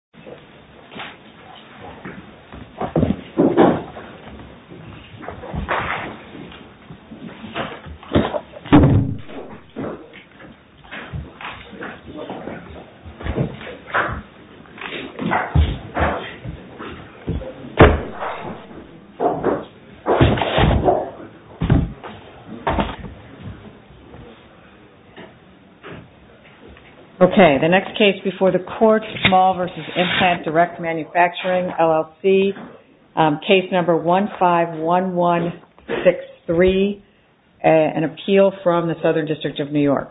Implant Direct Mfg. Ltd. Implant Direct Mfg. LLC. Case No. 151163. An appeal from the Southern District of New York.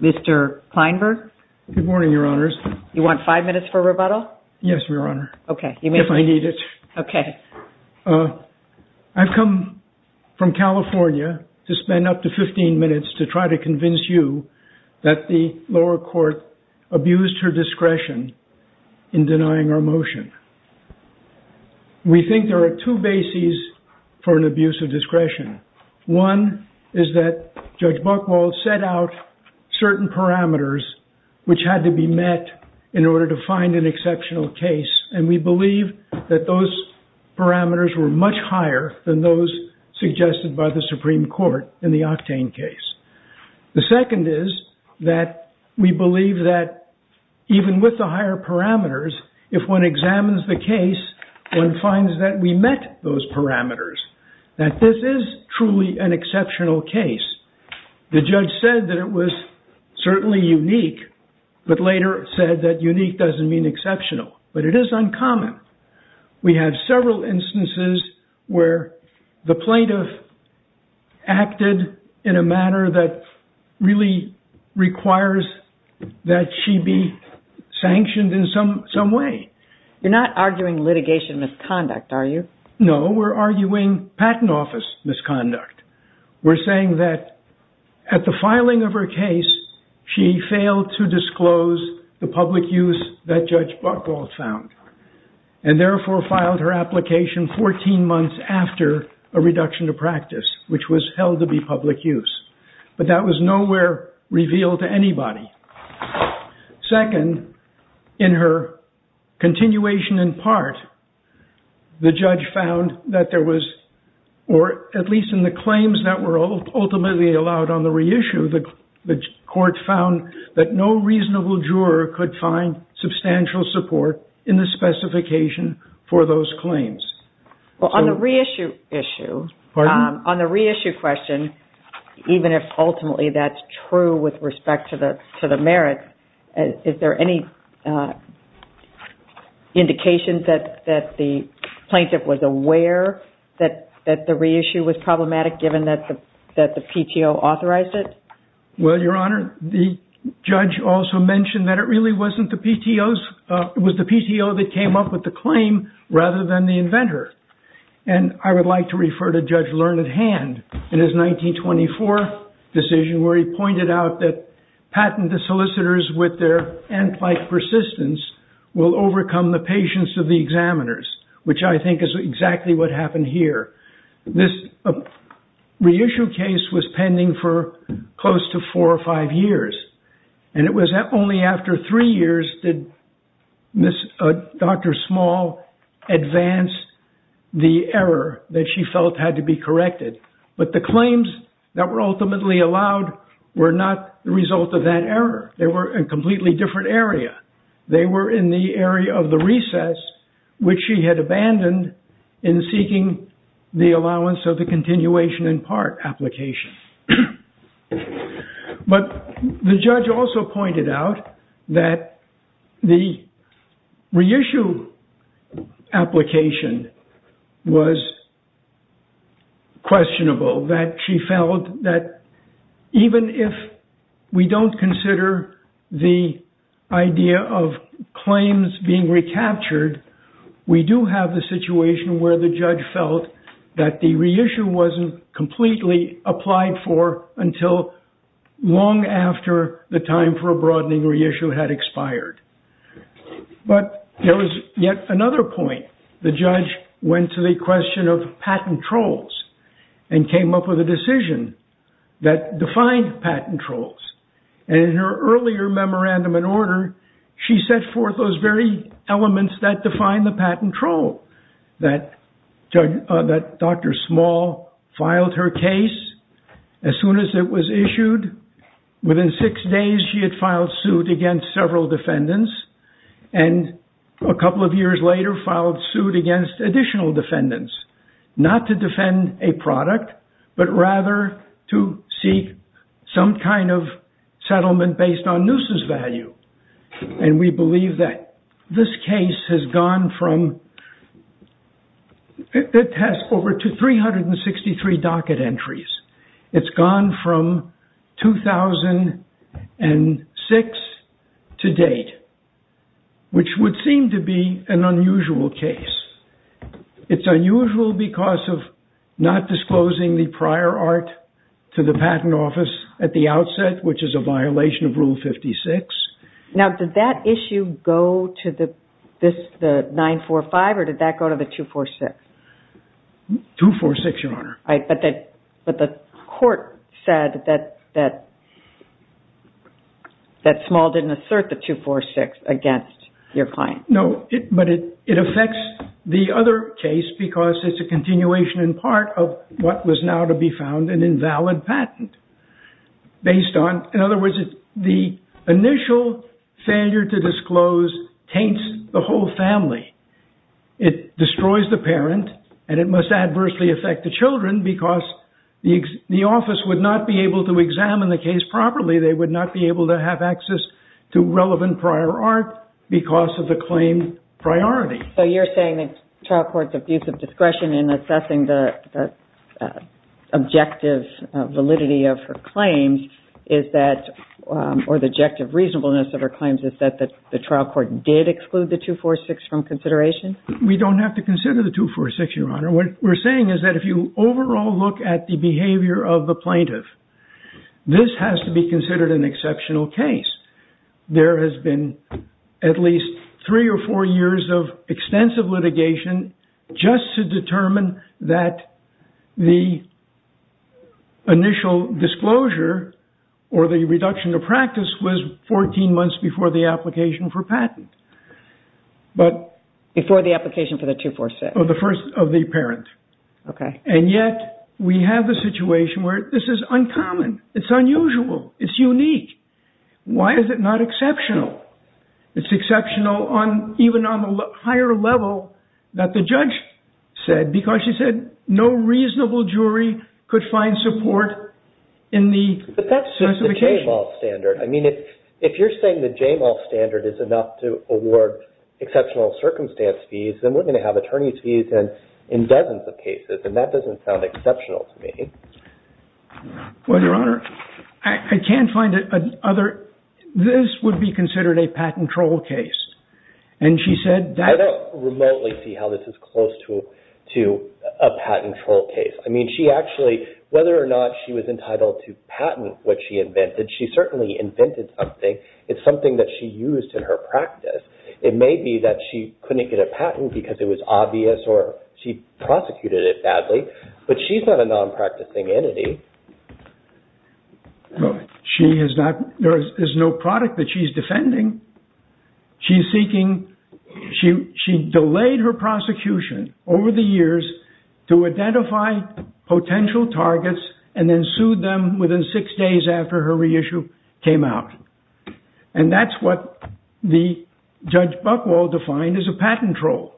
Mr. Kleinberg? Good morning, Your Honors. You want five minutes for rebuttal? Yes, Your Honor. Okay. If I need it. Okay. I've come from California to spend up to 15 minutes to try to convince you that the lower court abused her discretion in denying our motion. We think there are two bases for an abuse of discretion. One is that Judge Buchwald set out certain parameters which had to be met in order to find an exceptional case. And we believe that those parameters were much higher than those suggested by the Supreme Court in the Octane case. The second is that we believe that even with the higher parameters, if one examines the case, one finds that we met those parameters. That this is truly an exceptional case. The judge said that it was certainly unique, but later said that unique doesn't mean exceptional. But it is uncommon. We have several instances where the plaintiff acted in a manner that really requires that she be sanctioned in some way. You're not arguing litigation misconduct, are you? No, we're arguing patent office misconduct. We're saying that at the filing of her case, she failed to disclose the public use that Judge Buchwald found. And therefore filed her application 14 months after a reduction of practice, which was held to be public use. But that was nowhere revealed to anybody. Second, in her continuation in part, the judge found that there was, or at least in the claims that were ultimately allowed on the reissue, the court found that no reasonable juror could find substantial support in the specification for those claims. Well, on the reissue issue, on the reissue question, even if ultimately that's true with respect to the merits, is there any indication that the plaintiff was aware that the reissue was problematic, given that the PTO authorized it? Well, Your Honor, the judge also mentioned that it really wasn't the PTOs. It was the PTO that came up with the claim rather than the inventor. And I would like to refer to Judge Learned Hand in his 1924 decision where he pointed out that patent the solicitors with their ant-like persistence will overcome the patience of the examiners, which I think is exactly what happened here. This reissue case was pending for close to four or five years. And it was only after three years did Dr. Small advance the error that she felt had to be corrected. But the claims that were ultimately allowed were not the result of that error. They were in a completely different area. They were in the area of the recess, which she had abandoned in seeking the allowance of the continuation in part application. But the judge also pointed out that the reissue application was questionable, that she felt that even if we don't consider the idea of claims being recaptured, we do have the situation where the judge felt that the reissue wasn't completely applied for until long after the time for a broadening reissue had expired. But there was yet another point. The judge went to the question of patent trolls and came up with a decision that defined patent trolls. And in her earlier memorandum and order, she set forth those very elements that define the patent troll. That Dr. Small filed her case as soon as it was issued. Within six days, she had filed suit against several defendants. And a couple of years later, filed suit against additional defendants. Not to defend a product, but rather to seek some kind of settlement based on Noosa's value. And we believe that this case has gone from... It has over 363 docket entries. It's gone from 2006 to date, which would seem to be an unusual case. It's unusual because of not disclosing the prior art to the patent office at the outset, which is a violation of Rule 56. Now, did that issue go to the 945 or did that go to the 246? 246, Your Honor. But the court said that Small didn't assert the 246 against your client. No, but it affects the other case because it's a continuation in part of what was now to be found an invalid patent. Based on, in other words, the initial failure to disclose taints the whole family. It destroys the parent and it must adversely affect the children because the office would not be able to examine the case properly. They would not be able to have access to relevant prior art because of the claim priority. So you're saying that trial court's abuse of discretion in assessing the objective validity of her claims is that... We don't have to consider the 246, Your Honor. What we're saying is that if you overall look at the behavior of the plaintiff, this has to be considered an exceptional case. There has been at least three or four years of extensive litigation just to determine that the initial disclosure or the reduction of practice was 14 months before the application for patent. Before the application for the 246? The first of the parent. Okay. And yet we have a situation where this is uncommon. It's unusual. It's unique. Why is it not exceptional? It's exceptional even on the higher level that the judge said because she said no reasonable jury could find support in the... But that's the J-MAL standard. I mean, if you're saying the J-MAL standard is enough to award exceptional circumstance fees, then we're going to have attorney's fees in dozens of cases. And that doesn't sound exceptional to me. Well, Your Honor, I can't find another... This would be considered a patent troll case. And she said that... I don't remotely see how this is close to a patent troll case. I mean, she actually... Whether or not she was entitled to patent what she invented, she certainly invented something. It's something that she used in her practice. It may be that she couldn't get a patent because it was obvious or she prosecuted it badly. But she's not a non-practicing entity. She is not... There is no product that she's defending. She's seeking... She delayed her prosecution over the years to identify potential targets and then sued them within six days after her reissue came out. And that's what the Judge Buchwald defined as a patent troll.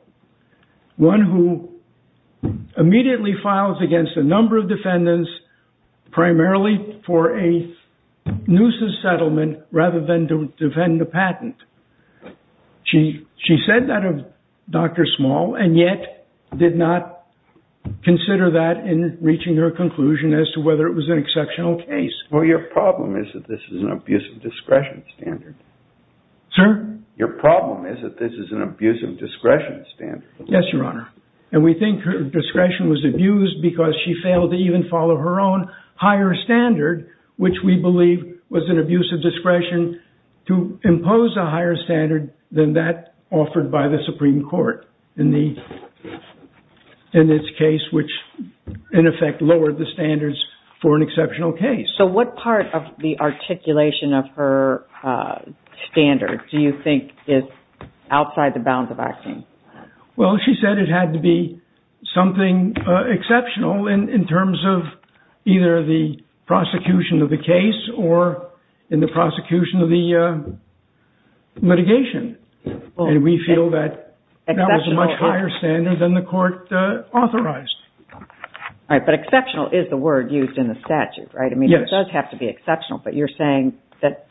One who immediately files against a number of defendants primarily for a nuisance settlement rather than to defend the patent. She said that of Dr. Small and yet did not consider that in reaching her conclusion as to whether it was an exceptional case. Well, your problem is that this is an abuse of discretion standard. Sir? Your problem is that this is an abuse of discretion standard. Yes, Your Honor. And we think her discretion was abused because she failed to even follow her own higher standard, which we believe was an abuse of discretion to impose a higher standard than that offered by the Supreme Court in this case, which, in effect, lowered the standards for an exceptional case. So what part of the articulation of her standard do you think is outside the bounds of our claim? Well, she said it had to be something exceptional in terms of either the prosecution of the case or in the prosecution of the litigation. And we feel that that was a much higher standard than the court authorized. All right, but exceptional is the word used in the statute, right? Yes. I mean, it does have to be exceptional, but you're saying that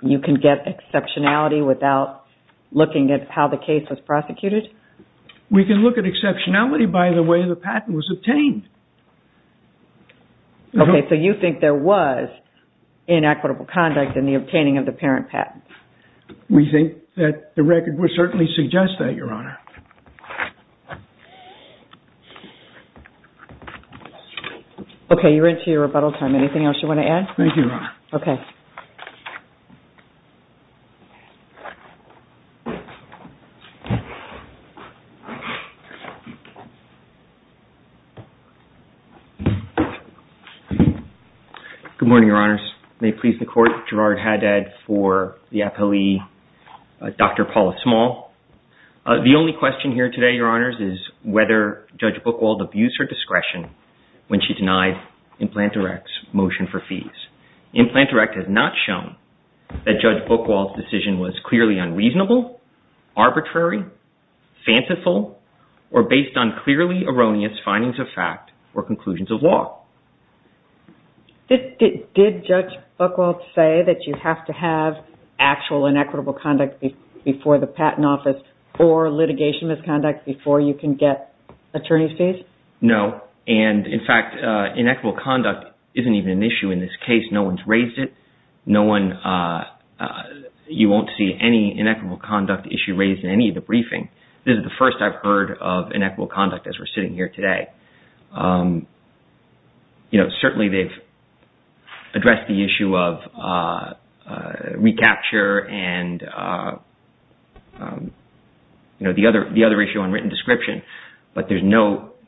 you can get exceptionality without looking at how the case was prosecuted? We can look at exceptionality by the way the patent was obtained. Okay, so you think there was inequitable conduct in the obtaining of the parent patent? We think that the record would certainly suggest that, Your Honor. Okay, you're into your rebuttal time. Anything else you want to add? Thank you, Your Honor. Okay. Good morning, Your Honors. May it please the Court, Gerard Haddad for the appellee, Dr. Paula Small. The only question here today, Your Honors, is whether Judge Buchwald abused her discretion when she denied Implant Direct's motion for fees. Implant Direct has not shown that Judge Buchwald's decision was clearly unreasonable, arbitrary, fanciful, or based on clearly erroneous findings of fact or conclusions of law. Did Judge Buchwald say that you have to have actual inequitable conduct before the patent office or litigation misconduct before you can get attorney's fees? No, and in fact, inequitable conduct isn't even an issue in this case. No one's raised it. You won't see any inequitable conduct issue raised in any of the briefing. This is the first I've heard of inequitable conduct as we're sitting here today. Certainly, they've addressed the issue of recapture and the other issue on written description, but there's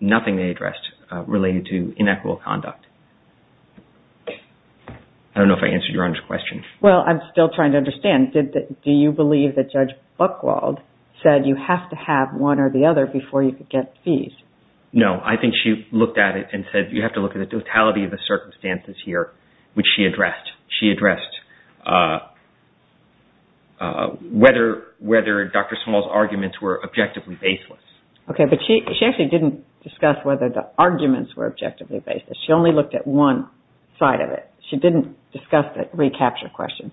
nothing they addressed related to inequitable conduct. I don't know if I answered Your Honor's question. Well, I'm still trying to understand. Do you believe that Judge Buchwald said you have to have one or the other before you could get fees? No, I think she looked at it and said you have to look at the totality of the circumstances here, which she addressed. She addressed whether Dr. Small's arguments were objectively baseless. Okay, but she actually didn't discuss whether the arguments were objectively baseless. She only looked at one side of it. She didn't discuss the recapture question.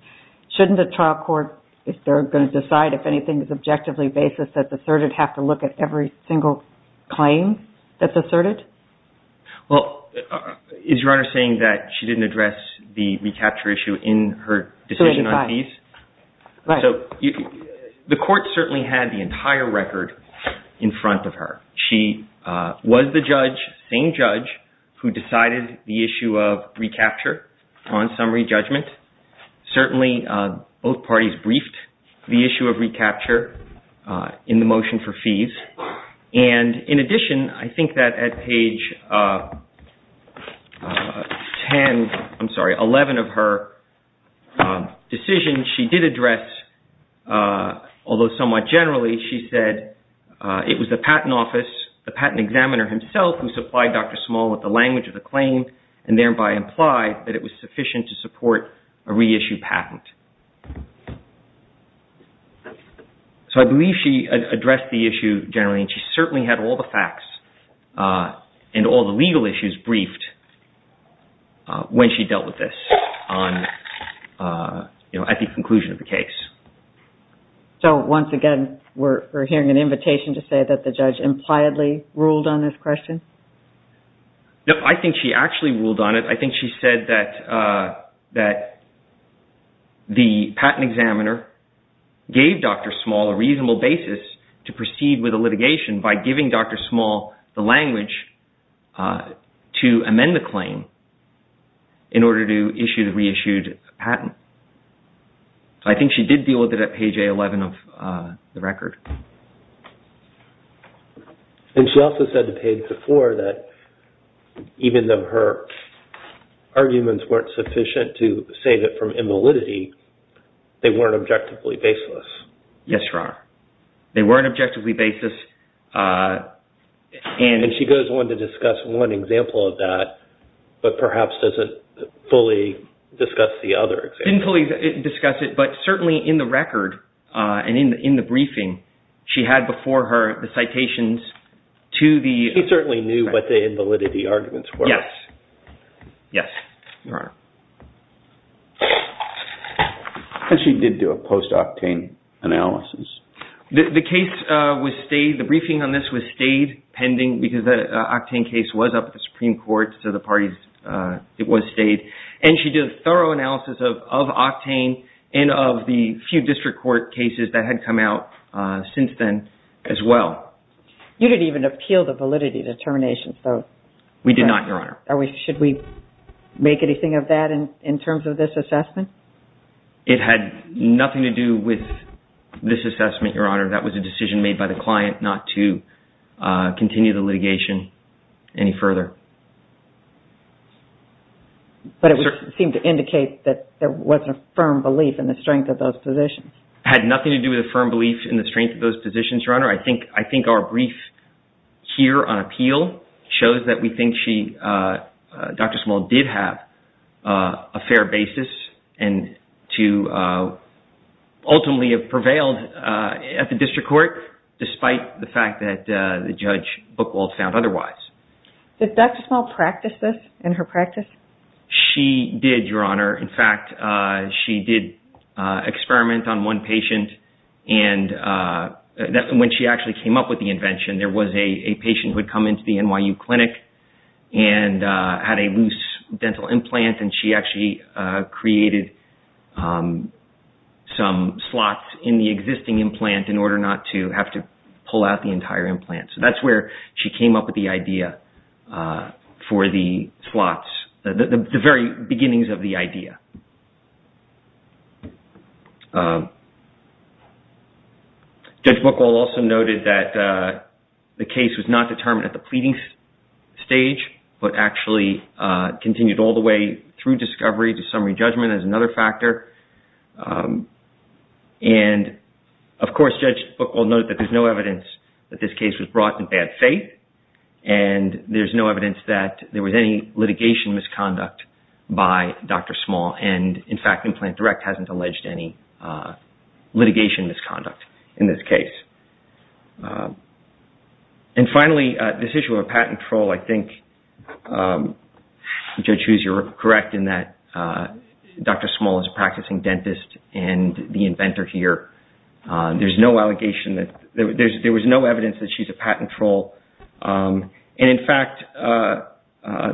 Shouldn't the trial court, if they're going to decide if anything is objectively baseless that's asserted, have to look at every single claim that's asserted? Well, is Your Honor saying that she didn't address the recapture issue in her decision on fees? Right. So the court certainly had the entire record in front of her. She was the judge, same judge, who decided the issue of recapture on summary judgment. Certainly, both parties briefed the issue of recapture in the motion for fees. And in addition, I think that at page 10, I'm sorry, 11 of her decision she did address, although somewhat generally, she said it was the patent office, the patent examiner himself who supplied Dr. Small with the language of the claim and thereby implied that it was sufficient to support a reissue patent. So I believe she addressed the issue generally. She certainly had all the facts and all the legal issues briefed when she dealt with this at the conclusion of the case. So once again, we're hearing an invitation to say that the judge impliedly ruled on this question? No, I think she actually ruled on it. I think she said that the patent examiner gave Dr. Small a reasonable basis to proceed with a litigation by giving Dr. Small the language to amend the claim in order to issue the reissued patent. So I think she did deal with it at page 11 of the record. And she also said the page before that even though her arguments weren't sufficient to save it from invalidity, they weren't objectively baseless. Yes, Your Honor. They weren't objectively baseless. And she goes on to discuss one example of that, but perhaps doesn't fully discuss the other example. She didn't fully discuss it, but certainly in the record and in the briefing, she had before her the citations to the… She certainly knew what the invalidity arguments were. Yes. Yes, Your Honor. And she did do a post-octane analysis. The case was stayed, the briefing on this was stayed pending because that octane case was up at the Supreme Court. So the parties, it was stayed. And she did a thorough analysis of octane and of the few district court cases that had come out since then as well. You didn't even appeal the validity determination. We did not, Your Honor. Should we make anything of that in terms of this assessment? It had nothing to do with this assessment, Your Honor. That was a decision made by the client not to continue the litigation any further. But it seemed to indicate that there wasn't a firm belief in the strength of those positions. It had nothing to do with a firm belief in the strength of those positions, Your Honor. I think our brief here on appeal shows that we think she, Dr. Small, did have a fair basis and to ultimately have prevailed at the district court despite the fact that Judge Buchwald found otherwise. Did Dr. Small practice this in her practice? She did, Your Honor. In fact, she did experiment on one patient. And when she actually came up with the invention, there was a patient who had come into the NYU clinic and had a loose dental implant. And she actually created some slots in the existing implant in order not to have to pull out the entire implant. So that's where she came up with the idea for the slots, the very beginnings of the idea. Judge Buchwald also noted that the case was not determined at the pleading stage but actually continued all the way through discovery to summary judgment as another factor. And of course, Judge Buchwald noted that there's no evidence that this case was brought in bad faith. And there's no evidence that there was any litigation misconduct by Dr. Small. And in fact, Implant Direct hasn't alleged any litigation misconduct in this case. And finally, this issue of a patent troll, I think Judge Hughes, you're correct in that Dr. Small is a practicing dentist and the inventor here. There was no evidence that she's a patent troll. And in fact,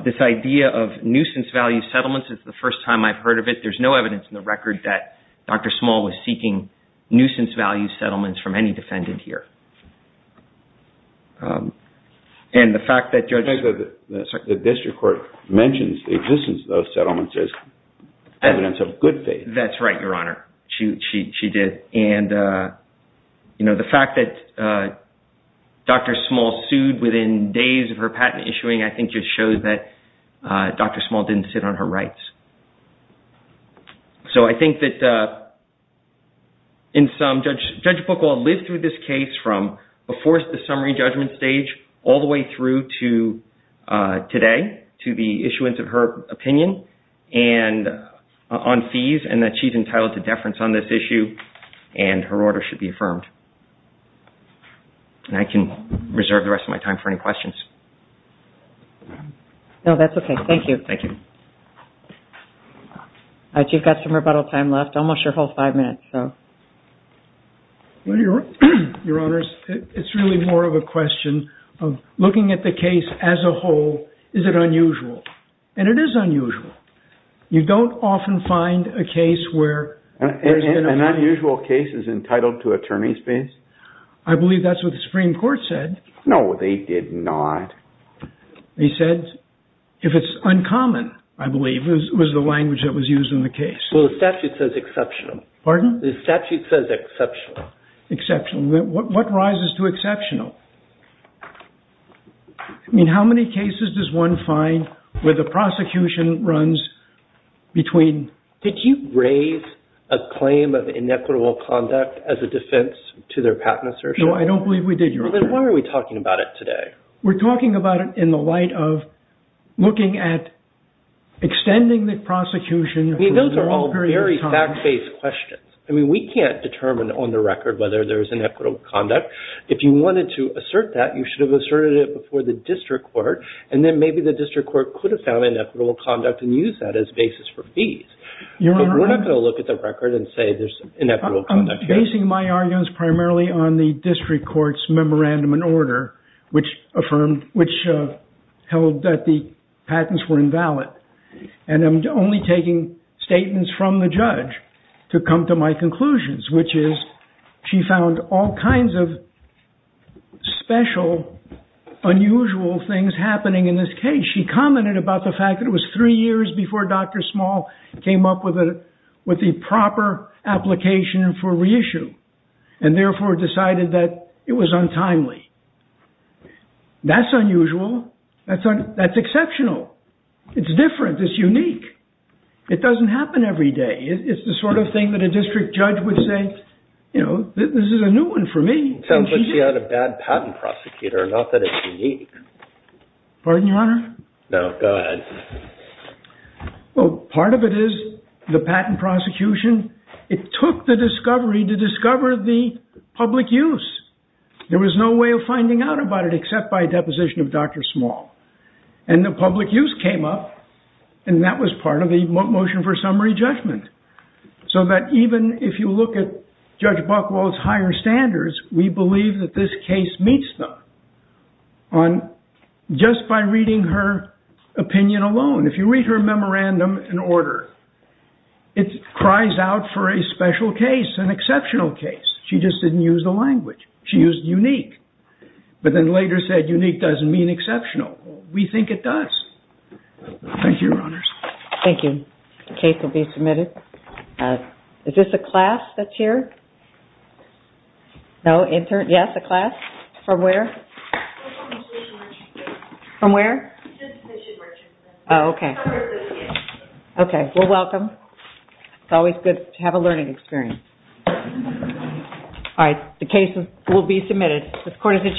this idea of nuisance value settlements is the first time I've heard of it. There's no evidence in the record that Dr. Small was seeking nuisance value settlements from any defendant here. The district court mentions the existence of those settlements as evidence of good faith. That's right, Your Honor. She did. And the fact that Dr. Small sued within days of her patent issuing I think just shows that Dr. Small didn't sit on her rights. So I think that in sum, Judge Buchwald lived through this case from before the summary judgment stage all the way through to today, to the issuance of her opinion on fees and that she's entitled to deference on this issue and her order should be affirmed. And I can reserve the rest of my time for any questions. No, that's okay. Thank you. Thank you. All right, you've got some rebuttal time left. Almost your whole five minutes, so. Well, Your Honor, it's really more of a question of looking at the case as a whole, is it unusual? And it is unusual. You don't often find a case where... An unusual case is entitled to attorney's fees? I believe that's what the Supreme Court said. No, they did not. They said, if it's uncommon, I believe, was the language that was used in the case. Well, the statute says exceptional. Pardon? The statute says exceptional. Exceptional. What rises to exceptional? I mean, how many cases does one find where the prosecution runs between... Did you raise a claim of inequitable conduct as a defense to their patent assertion? No, I don't believe we did, Your Honor. Then why are we talking about it today? We're talking about it in the light of looking at extending the prosecution... I mean, those are all very fact-based questions. I mean, we can't determine on the record whether there's inequitable conduct. If you wanted to assert that, you should have asserted it before the district court, and then maybe the district court could have found inequitable conduct and used that as basis for fees. But we're not going to look at the record and say there's inequitable conduct here. I'm basing my arguments primarily on the district court's memorandum and order, which held that the patents were invalid. And I'm only taking statements from the judge to come to my conclusions, which is she found all kinds of special, unusual things happening in this case. And she commented about the fact that it was three years before Dr. Small came up with the proper application for reissue, and therefore decided that it was untimely. That's unusual. That's exceptional. It's different. It's unique. It doesn't happen every day. It's the sort of thing that a district judge would say, you know, this is a new one for me. Sounds like she had a bad patent prosecutor, not that it's unique. Pardon, Your Honor? No, go ahead. Well, part of it is the patent prosecution. It took the discovery to discover the public use. There was no way of finding out about it except by deposition of Dr. Small. And the public use came up, and that was part of the motion for summary judgment. So that even if you look at Judge Buchwald's higher standards, we believe that this case meets them. Just by reading her opinion alone, if you read her memorandum in order, it cries out for a special case, an exceptional case. She just didn't use the language. She used unique. But then later said unique doesn't mean exceptional. We think it does. Thank you, Your Honors. Thank you. The case will be submitted. Is this a class that's here? No, intern? Yes, a class? From where? From where? Oh, okay. Okay. Well, welcome. It's always good to have a learning experience. All right. The case will be submitted. This court is adjourned.